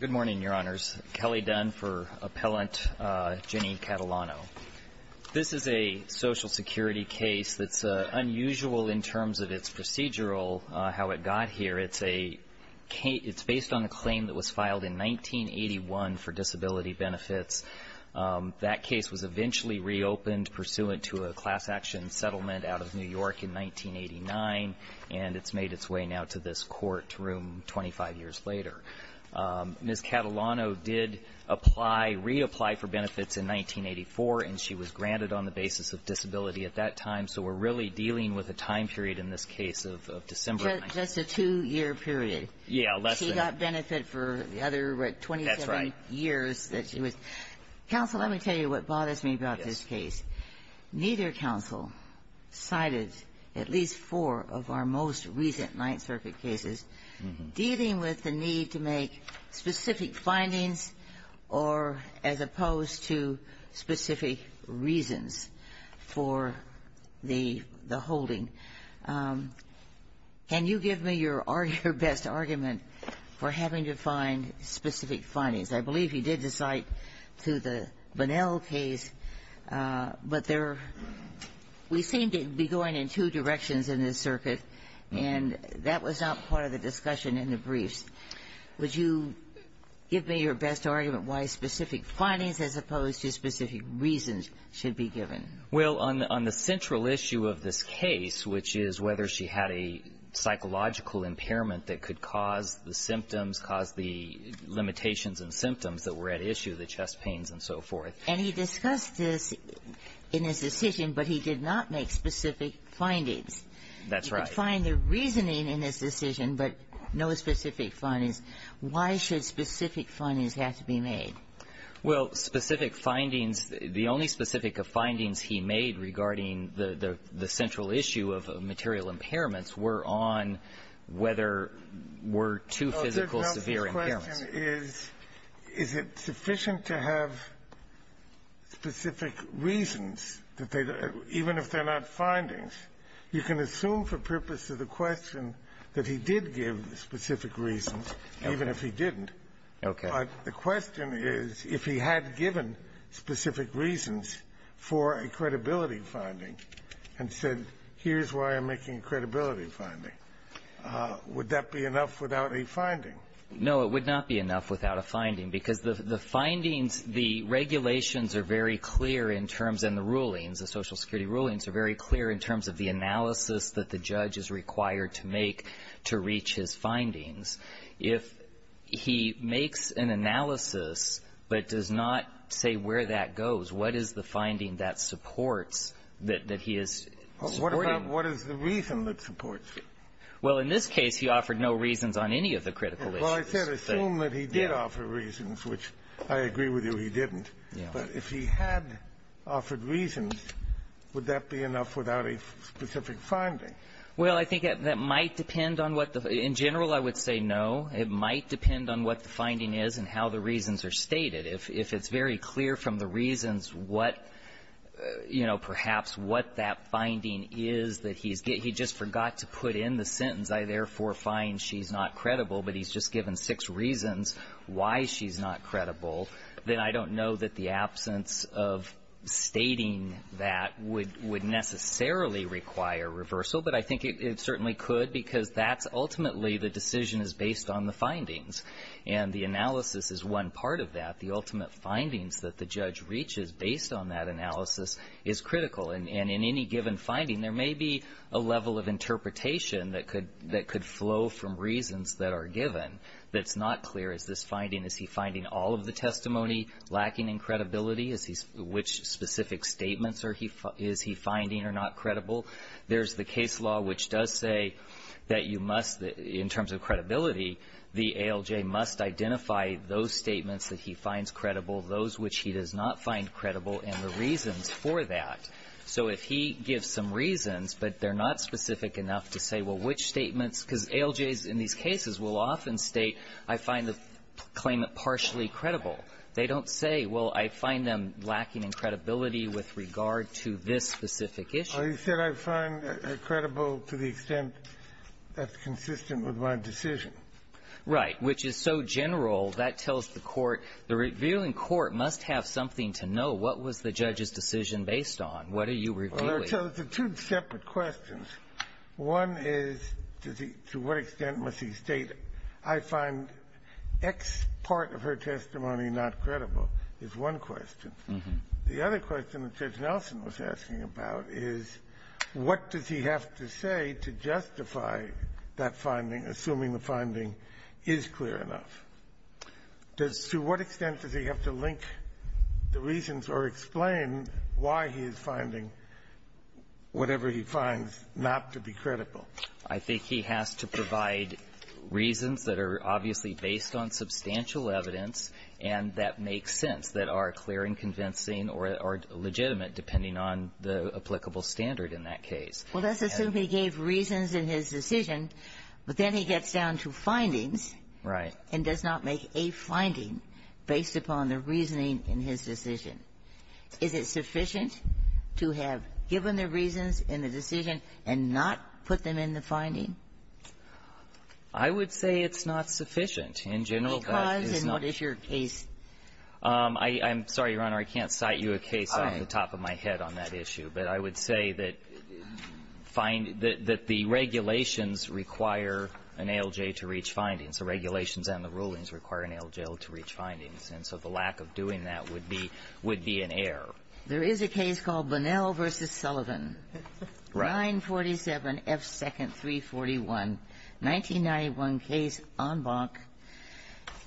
Good morning, Your Honors. Kelly Dunn for Appellant Jenny Catalano. This is a Social Security case that's unusual in terms of its procedural, how it got here. It's based on a claim that was filed in 1981 for disability benefits. That case was eventually reopened pursuant to a class action settlement out of New York in 1989, and it's made its way now to this court room 25 years later. Ms. Catalano did apply, reapply for benefits in 1984, and she was granted on the basis of disability at that time. So we're really dealing with a time period in this case of December. Just a two-year period. Yeah, less than. She got benefit for the other 27 years that she was. Counsel, let me tell you what bothers me about this case. Neither counsel cited at least four of our most recent Ninth Circuit cases dealing with the need to make specific findings or as opposed to specific reasons for the holding. Can you give me your best argument for having to find specific findings? I believe you did cite to the Bunnell case, but there we seem to be going in two directions in this circuit, and that was not part of the discussion in the briefs. Would you give me your best argument why specific findings as opposed to specific reasons should be given? Well, on the central issue of this case, which is whether she had a psychological impairment that could cause the symptoms, cause the limitations and symptoms that were at issue, the chest pains and so forth. And he discussed this in his decision, but he did not make specific findings. That's right. He could find the reasoning in his decision, but no specific findings. Why should specific findings have to be made? Well, specific findings, the only specific findings he made regarding the central issue of material impairments were on whether were two physical severe impairments. The question is, is it sufficient to have specific reasons that they do, even if they're not findings? You can assume for purpose of the question that he did give specific reasons, even if he didn't. Okay. But the question is, if he had given specific reasons for a credibility finding and said, here's why I'm making a credibility finding, would that be enough without a finding? No, it would not be enough without a finding, because the findings, the regulations are very clear in terms, and the rulings, the Social Security rulings are very clear in terms of the analysis that the judge is required to make to reach his findings. If he makes an analysis but does not say where that goes, what is the finding that supports that he is supporting? What is the reason that supports it? Well, in this case, he offered no reasons on any of the critical issues. Well, I said assume that he did offer reasons, which I agree with you he didn't. But if he had offered reasons, would that be enough without a specific finding? Well, I think that might depend on what the — in general, I would say no. It might depend on what the finding is and how the reasons are stated. If it's very clear from the reasons what, you know, perhaps what that finding is that he's — he just forgot to put in the sentence, I therefore find she's not credible, but he's just given six reasons why she's not credible, then I don't know that the absence of stating that would necessarily require reversal. But I think it certainly could, because that's ultimately the decision is based on the findings. And the analysis is one part of that. The ultimate findings that the judge reaches based on that analysis is critical. And in any given finding, there may be a level of interpretation that could flow from reasons that are given that's not clear. Is this finding — is he finding all of the testimony lacking in credibility? Which specific statements is he finding are not credible? There's the case law which does say that you must, in terms of credibility, the ALJ must identify those statements that he finds credible, those which he does not find credible, and the reasons for that. So if he gives some reasons, but they're not specific enough to say, well, which statements, because ALJs in these cases will often state, I find the claimant partially credible. They don't say, well, I find them lacking in credibility with regard to this specific issue. Well, he said, I find it credible to the extent that's consistent with my decision. Right. Which is so general, that tells the Court, the revealing Court must have something to know. What was the judge's decision based on? What are you revealing? Well, there are two separate questions. One is, to what extent must he state, I find X part of her testimony not credible is one question. The other question that Judge Nelson was asking about is, what does he have to say to justify that finding, assuming the finding is clear enough? Does to what extent does he have to link the reasons or explain why he is finding whatever he finds not to be credible? I think he has to provide reasons that are obviously based on substantial evidence and that make sense, that are clear and convincing or legitimate, depending on the applicable standard in that case. Well, let's assume he gave reasons in his decision, but then he gets down to findings. Right. And does not make a finding based upon the reasoning in his decision. Is it sufficient to have given the reasons in the decision and not put them in the finding? I would say it's not sufficient. In general, that is not the case. Because? And not if your case… I'm sorry, Your Honor, I can't cite you a case off the top of my head on that issue. But I would say that the regulations require an ALJ to reach findings. The regulations and the rulings require an ALJ to reach findings. And so the lack of doing that would be an error. There is a case called Bunnell v. Sullivan, 947 F. 2nd, 341, 1991 case on Bonk.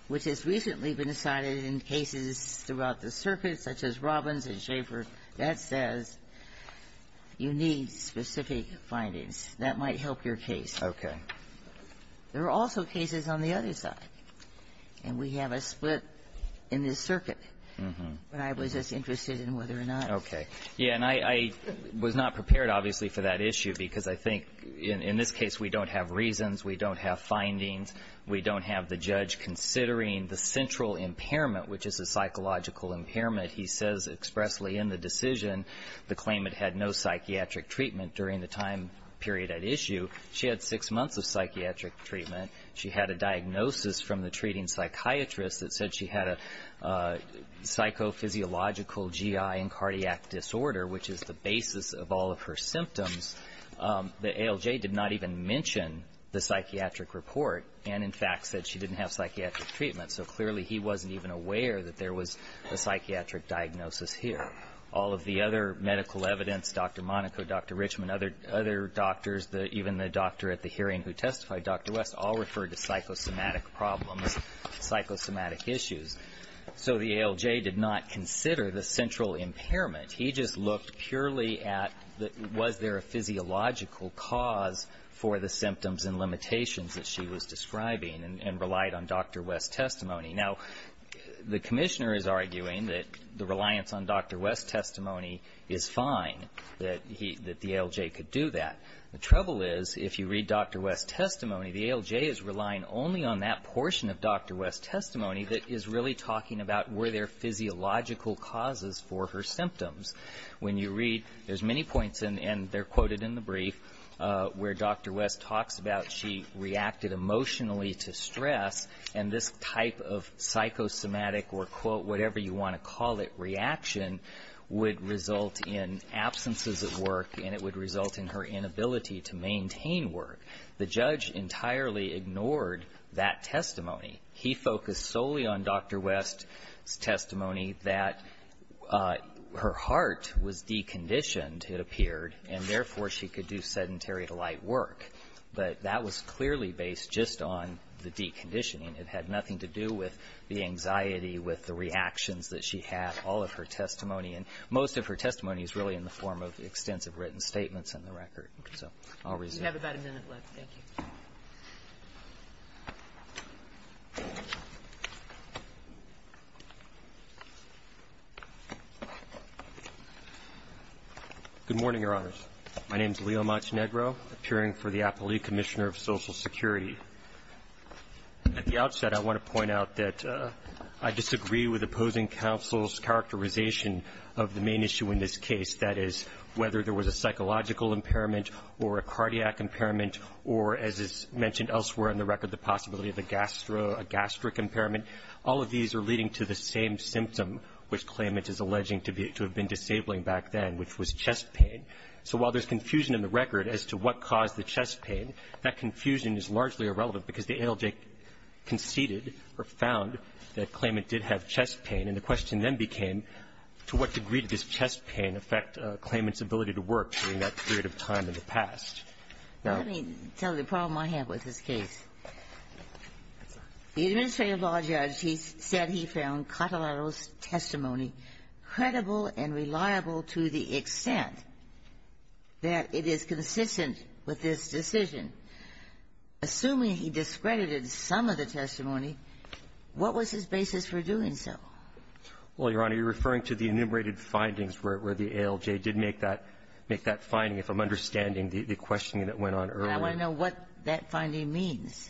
Which has recently been cited in cases throughout the circuit, such as Robbins and Schaefer, that says you need specific findings. That might help your case. Okay. There are also cases on the other side. And we have a split in this circuit. Mm-hmm. But I was just interested in whether or not… Okay. Yeah. And I was not prepared, obviously, for that issue, because I think in this case, we don't have reasons. We don't have findings. We don't have the judge considering the central impairment, which is a psychological impairment. He says expressly in the decision, the claimant had no psychiatric treatment during the time period at issue. She had six months of psychiatric treatment. She had a diagnosis from the treating psychiatrist that said she had a psychophysiological GI and cardiac disorder, which is the basis of all of her symptoms. The ALJ did not even mention the psychiatric report and, in fact, said she didn't have psychiatric treatment. So clearly, he wasn't even aware that there was a psychiatric diagnosis here. All of the other medical evidence, Dr. Monaco, Dr. Richmond, other doctors, even the doctor at the hearing who testified, Dr. West, all referred to psychosomatic problems, psychosomatic issues. So the ALJ did not consider the central impairment. He just looked purely at was there a physiological cause for the symptoms and limitations that she was describing and relied on Dr. West's testimony. Now, the commissioner is arguing that the reliance on Dr. West's testimony is fine, that the ALJ could do that. The trouble is, if you read Dr. West's testimony, the ALJ is relying only on that portion of Dr. West's testimony that is really talking about were there physiological causes for her symptoms. When you read, there's many points, and they're quoted in the brief, where Dr. West talks about she reacted emotionally to stress, and this type of psychosomatic or, quote, whatever you want to call it, reaction would result in absences at work, and it would result in her inability to maintain work. The judge entirely ignored that testimony. He focused solely on Dr. West's testimony that her heart was deconditioned, it appeared, and therefore, she could do sedentary-to-light work. But that was clearly based just on the deconditioning. It had nothing to do with the anxiety, with the reactions that she had, all of her testimony. And most of her testimony is really in the form of extensive written statements in the record. So I'll resume. We have about a minute left. Thank you. Good morning, Your Honors. My name is Leo Montenegro, appearing for the Appellee Commissioner of Social Security. At the outset, I want to point out that I disagree with opposing counsel's characterization of the main issue in this case, that is, whether there was a psychological impairment or a cardiac impairment or, as is mentioned elsewhere in the record, the possibility of a gastro or a gastric impairment. All of these are leading to the same symptom which Klayment is alleging to be to have been disabling back then, which was chest pain. So while there's confusion in the record as to what caused the chest pain, that confusion is largely irrelevant because the ALJ conceded or found that Klayment did have chest pain, and the question then became to what degree did this chest pain affect Klayment's ability to work during that period of time in the past. Now the problem I have with this case, the administrative law judge, he said he found Cotillero's testimony credible and reliable to the extent that it is consistent with this decision. Assuming he discredited some of the testimony, what was his basis for doing so? Well, Your Honor, you're referring to the enumerated findings where the ALJ did make that finding, if I'm understanding the questioning that went on earlier. And I want to know what that finding means.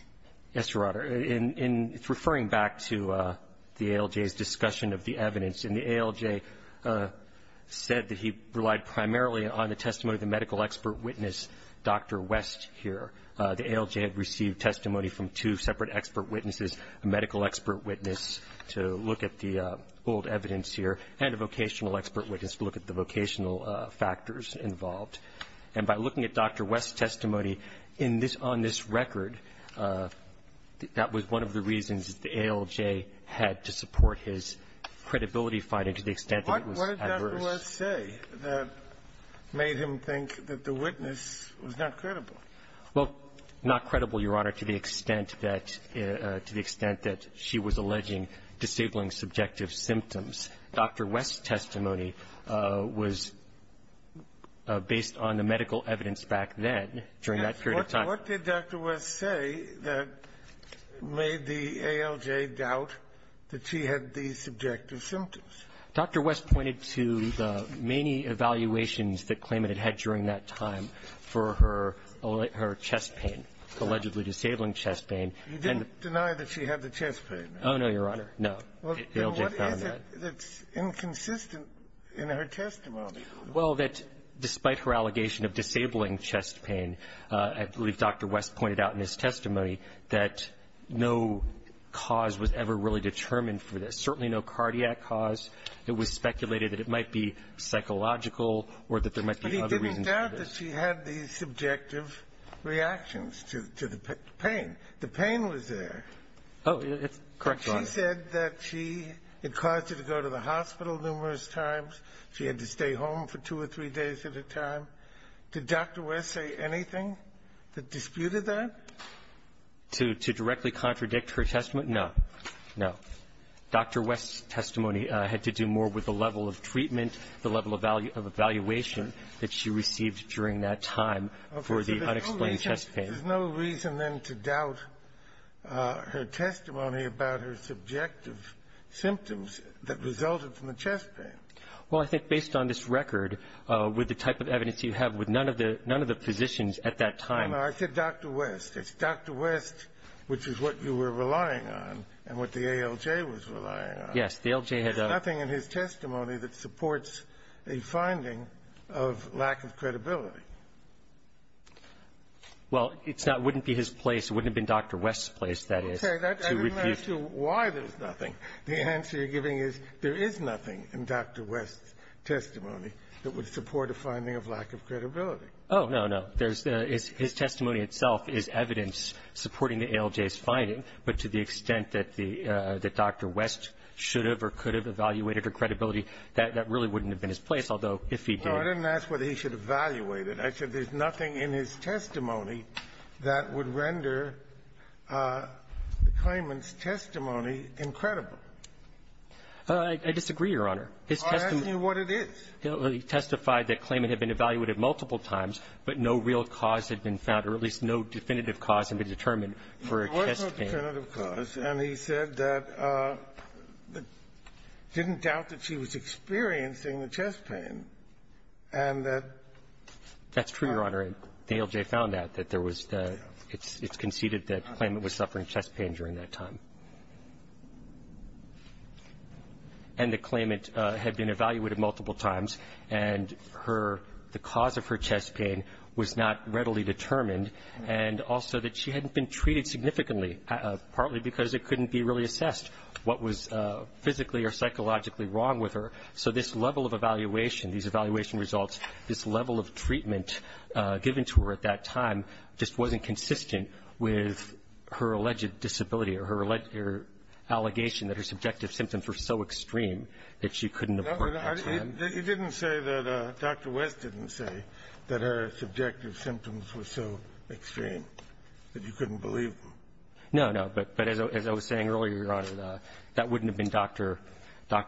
Yes, Your Honor. In referring back to the ALJ's discussion of the evidence, and the ALJ said that he relied primarily on the testimony of the medical expert witness, Dr. West, here. The ALJ had received testimony from two separate expert witnesses, a medical expert witness, and a vocational expert witness, to look at the vocational factors involved. And by looking at Dr. West's testimony on this record, that was one of the reasons that the ALJ had to support his credibility finding to the extent that it was adverse. What did Dr. West say that made him think that the witness was not credible? Well, not credible, Your Honor, to the extent that she was alleging disabling subjective symptoms. Dr. West's testimony was based on the medical evidence back then, during that period of time. What did Dr. West say that made the ALJ doubt that she had the subjective symptoms? Dr. West pointed to the many evaluations that claimant had had during that time for her chest pain, allegedly disabling chest pain. You didn't deny that she had the chest pain. Oh, no, Your Honor. No. Well, then what is it that's inconsistent in her testimony? Well, that despite her allegation of disabling chest pain, I believe Dr. West pointed out in his testimony that no cause was ever really determined for this, certainly no cardiac cause. It was speculated that it might be psychological or that there might be other reasons for this. But he didn't doubt that she had the subjective reactions to the pain. The pain was there. Oh, that's correct, Your Honor. She said that she had caused her to go to the hospital numerous times. She had to stay home for two or three days at a time. Did Dr. West say anything that disputed that? To directly contradict her testimony? No. No. Dr. West's testimony had to do more with the level of treatment, the level of evaluation that she received during that time for the unexplained chest pain. There's no reason, then, to doubt her testimony about her subjective symptoms that resulted from the chest pain. Well, I think based on this record, with the type of evidence you have, with none of the positions at that time No, no. I said Dr. West. It's Dr. West, which is what you were relying on and what the ALJ was relying on. Yes. The ALJ had There's nothing in his testimony that supports a finding of lack of credibility. Well, it's not It wouldn't be his place. It wouldn't have been Dr. West's place, that is, to refute I didn't ask you why there's nothing. The answer you're giving is there is nothing in Dr. West's testimony that would support a finding of lack of credibility. Oh, no, no. There's His testimony itself is evidence supporting the ALJ's finding, but to the extent that the Dr. West should have or could have evaluated her credibility, that really wouldn't have been his place, although if he did I didn't ask whether he should evaluate it. I said there's nothing in his testimony that would render the claimant's testimony incredible. I disagree, Your Honor. His testimony I'm asking you what it is. He testified that claimant had been evaluated multiple times, but no real cause had been found, or at least no definitive cause had been determined for a chest pain. There was no definitive cause, and he said that he didn't doubt that she was experiencing the chest pain, and that that's true, Your Honor, and the ALJ found out that there was the it's conceded that claimant was suffering chest pain during that time. And the claimant had been evaluated multiple times, and her the cause of her chest pain was not readily determined, and also that she hadn't been treated significantly, partly because it couldn't be really assessed what was physically or psychologically wrong with her. So this level of evaluation, these evaluation results, this level of treatment given to her at that time just wasn't consistent with her alleged disability or her allegation that her subjective symptoms were so extreme that she couldn't report back to them. You didn't say that Dr. West didn't say that her subjective symptoms were so extreme that you couldn't believe them. No, no. But as I was saying earlier, Your Honor, that wouldn't have been Dr.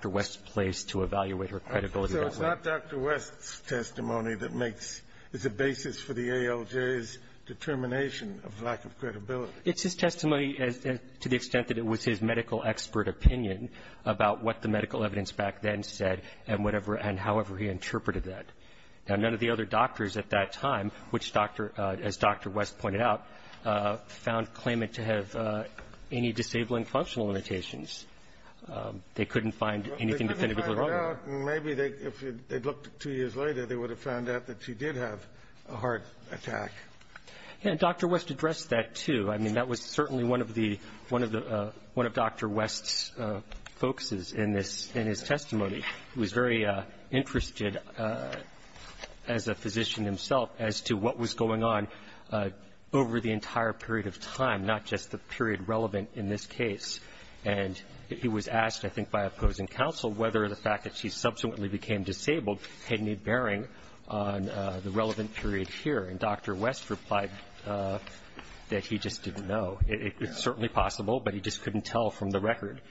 West's place to evaluate her credibility that way. So it's not Dr. West's testimony that makes it's a basis for the ALJ's determination of lack of credibility. It's his testimony to the extent that it was his medical expert opinion about what the medical evidence back then said and whatever and however he interpreted that. Now, none of the other doctors at that time, which, as Dr. West pointed out, found claimant to have any disabling functional limitations. They couldn't find anything definitively wrong. Well, they couldn't find out, and maybe if they'd looked two years later, they would have found out that she did have a heart attack. Yeah, and Dr. West addressed that, too. I mean, that was certainly one of the Dr. West's focuses in his testimony. He was very interested as a physician himself as to what was going on over the entire period of time, not just the period relevant in this case. And he was asked, I think by opposing counsel, whether the fact that she subsequently became disabled had any bearing on the relevant period here. And Dr. West replied that he just didn't know. It's certainly possible, but he just couldn't tell from the record.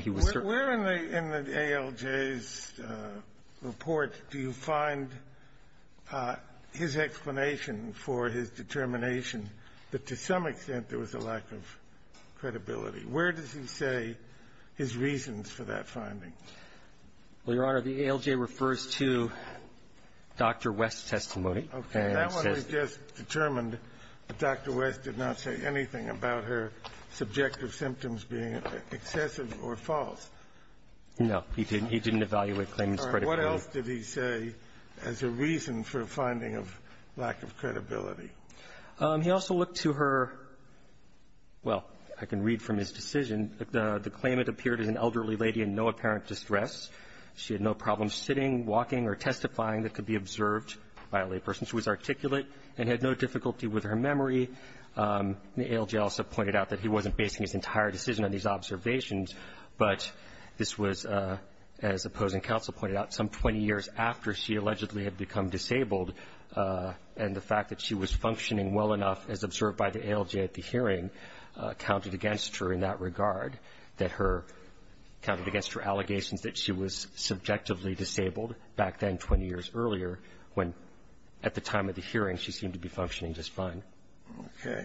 He was certainly not going to tell. Where in the ALJ's report do you find his explanation for his determination that to some extent there was a lack of credibility? Where does he say his reasons for that finding? Well, Your Honor, the ALJ refers to Dr. West's testimony. Okay. That one we just determined that Dr. West did not say anything about her subjective symptoms being excessive or false. No. He didn't. He didn't evaluate claimants' credibility. All right. What else did he say as a reason for a finding of lack of credibility? He also looked to her, well, I can read from his decision, the claimant appeared as an elderly lady in no apparent distress. She had no problems sitting, walking, or testifying that could be observed by a layperson. She was articulate and had no difficulty with her memory. The ALJ also pointed out that he wasn't basing his entire decision on these observations. But this was, as opposing counsel pointed out, some 20 years after she allegedly had become disabled and the fact that she was functioning well enough, as observed by the ALJ at the hearing, counted against her in that regard, that her, counted against her allegations that she was subjectively disabled back then 20 years earlier when at the time of the hearing she seemed to be functioning just fine. Okay.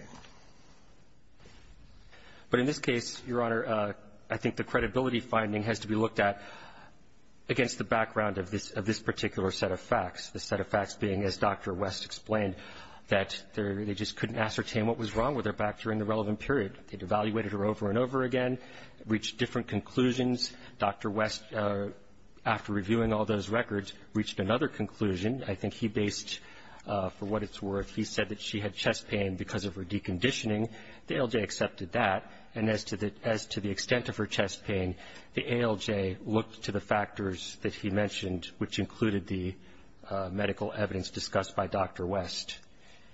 But in this case, Your Honor, I think the credibility finding has to be looked at against the background of this particular set of facts, the set of facts being, as Dr. West explained, that they just couldn't ascertain what was wrong with her back during the relevant period. They'd evaluated her over and over again, reached different conclusions. Dr. West, after reviewing all those records, reached another conclusion. I think he based, for what it's worth, he said that she had chest pain because of her deconditioning. The ALJ accepted that, and as to the extent of her chest pain, the ALJ looked to the factors that he mentioned, which included the medical evidence discussed by Dr. West,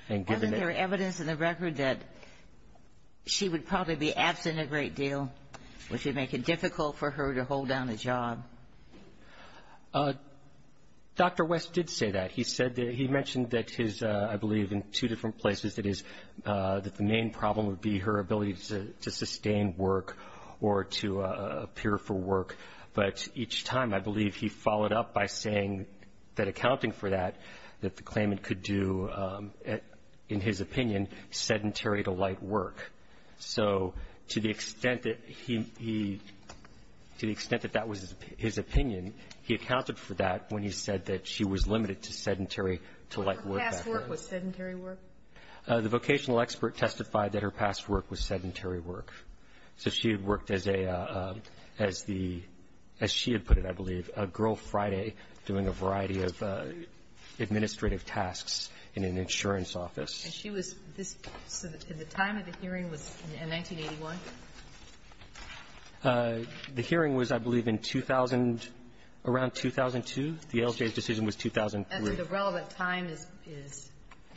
and given that Wasn't there evidence in the record that she would probably be absent a great deal, which would make it difficult for her to hold down a job? Dr. West did say that. He said that, he mentioned that his, I believe in two different places, that his, that the main problem would be her ability to sustain work or to appear for work. But each time, I believe he followed up by saying that accounting for that, that the claimant could do, in his opinion, sedentary to light work. So to the extent that he, to the extent that that was his opinion, he accounted for that when he said that she was limited to sedentary to light work. Her past work was sedentary work? The vocational expert testified that her past work was sedentary work. So she had worked as a, as the, as she had put it, I believe, a Girl Friday doing a variety of administrative tasks in an insurance office. And she was, this, so the time of the hearing was in 1981? The hearing was, I believe, in 2000, around 2002. The ALJ's decision was 2003. And so the relevant time is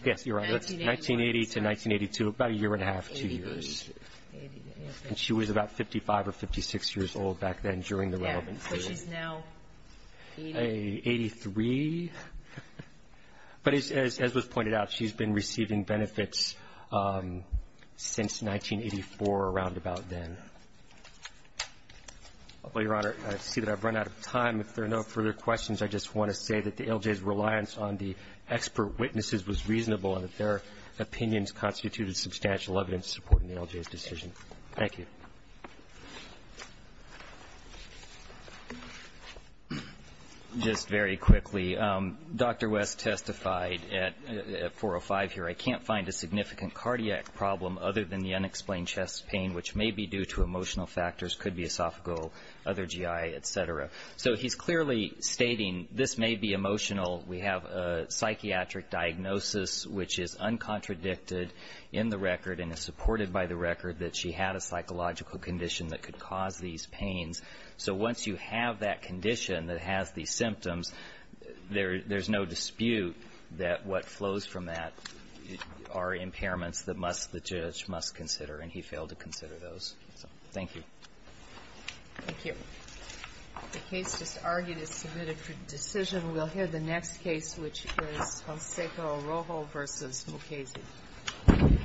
Yes, you're right. 1980 to 1982, about a year and a half, two years. And she was about 55 or 56 years old back then during the relevant period. Yes, but she's now 80? 83. But as was pointed out, she's been receiving benefits since 1984, around about then. Your Honor, I see that I've run out of time. If there are no further questions, I just want to say that the ALJ's reliance on the expert witnesses was reasonable and that their opinions constituted substantial evidence supporting the ALJ's decision. Thank you. Just very quickly, Dr. West testified at 405 here, I can't find a significant cardiac problem other than the unexplained chest pain, which may be due to emotional factors, could be esophageal, other GI, et cetera. So he's clearly stating this may be emotional. We have a psychiatric diagnosis which is uncontradicted in the record and is supported by the record that she had a psychological condition that could cause these pains. So once you have that condition that has these symptoms, there's no dispute that what flows from that are impairments that the judge must consider, and he failed to consider those. Thank you. Thank you. The case just argued is submitted for decision. We'll hear the next case, which is Jose Rojo versus Mukasey.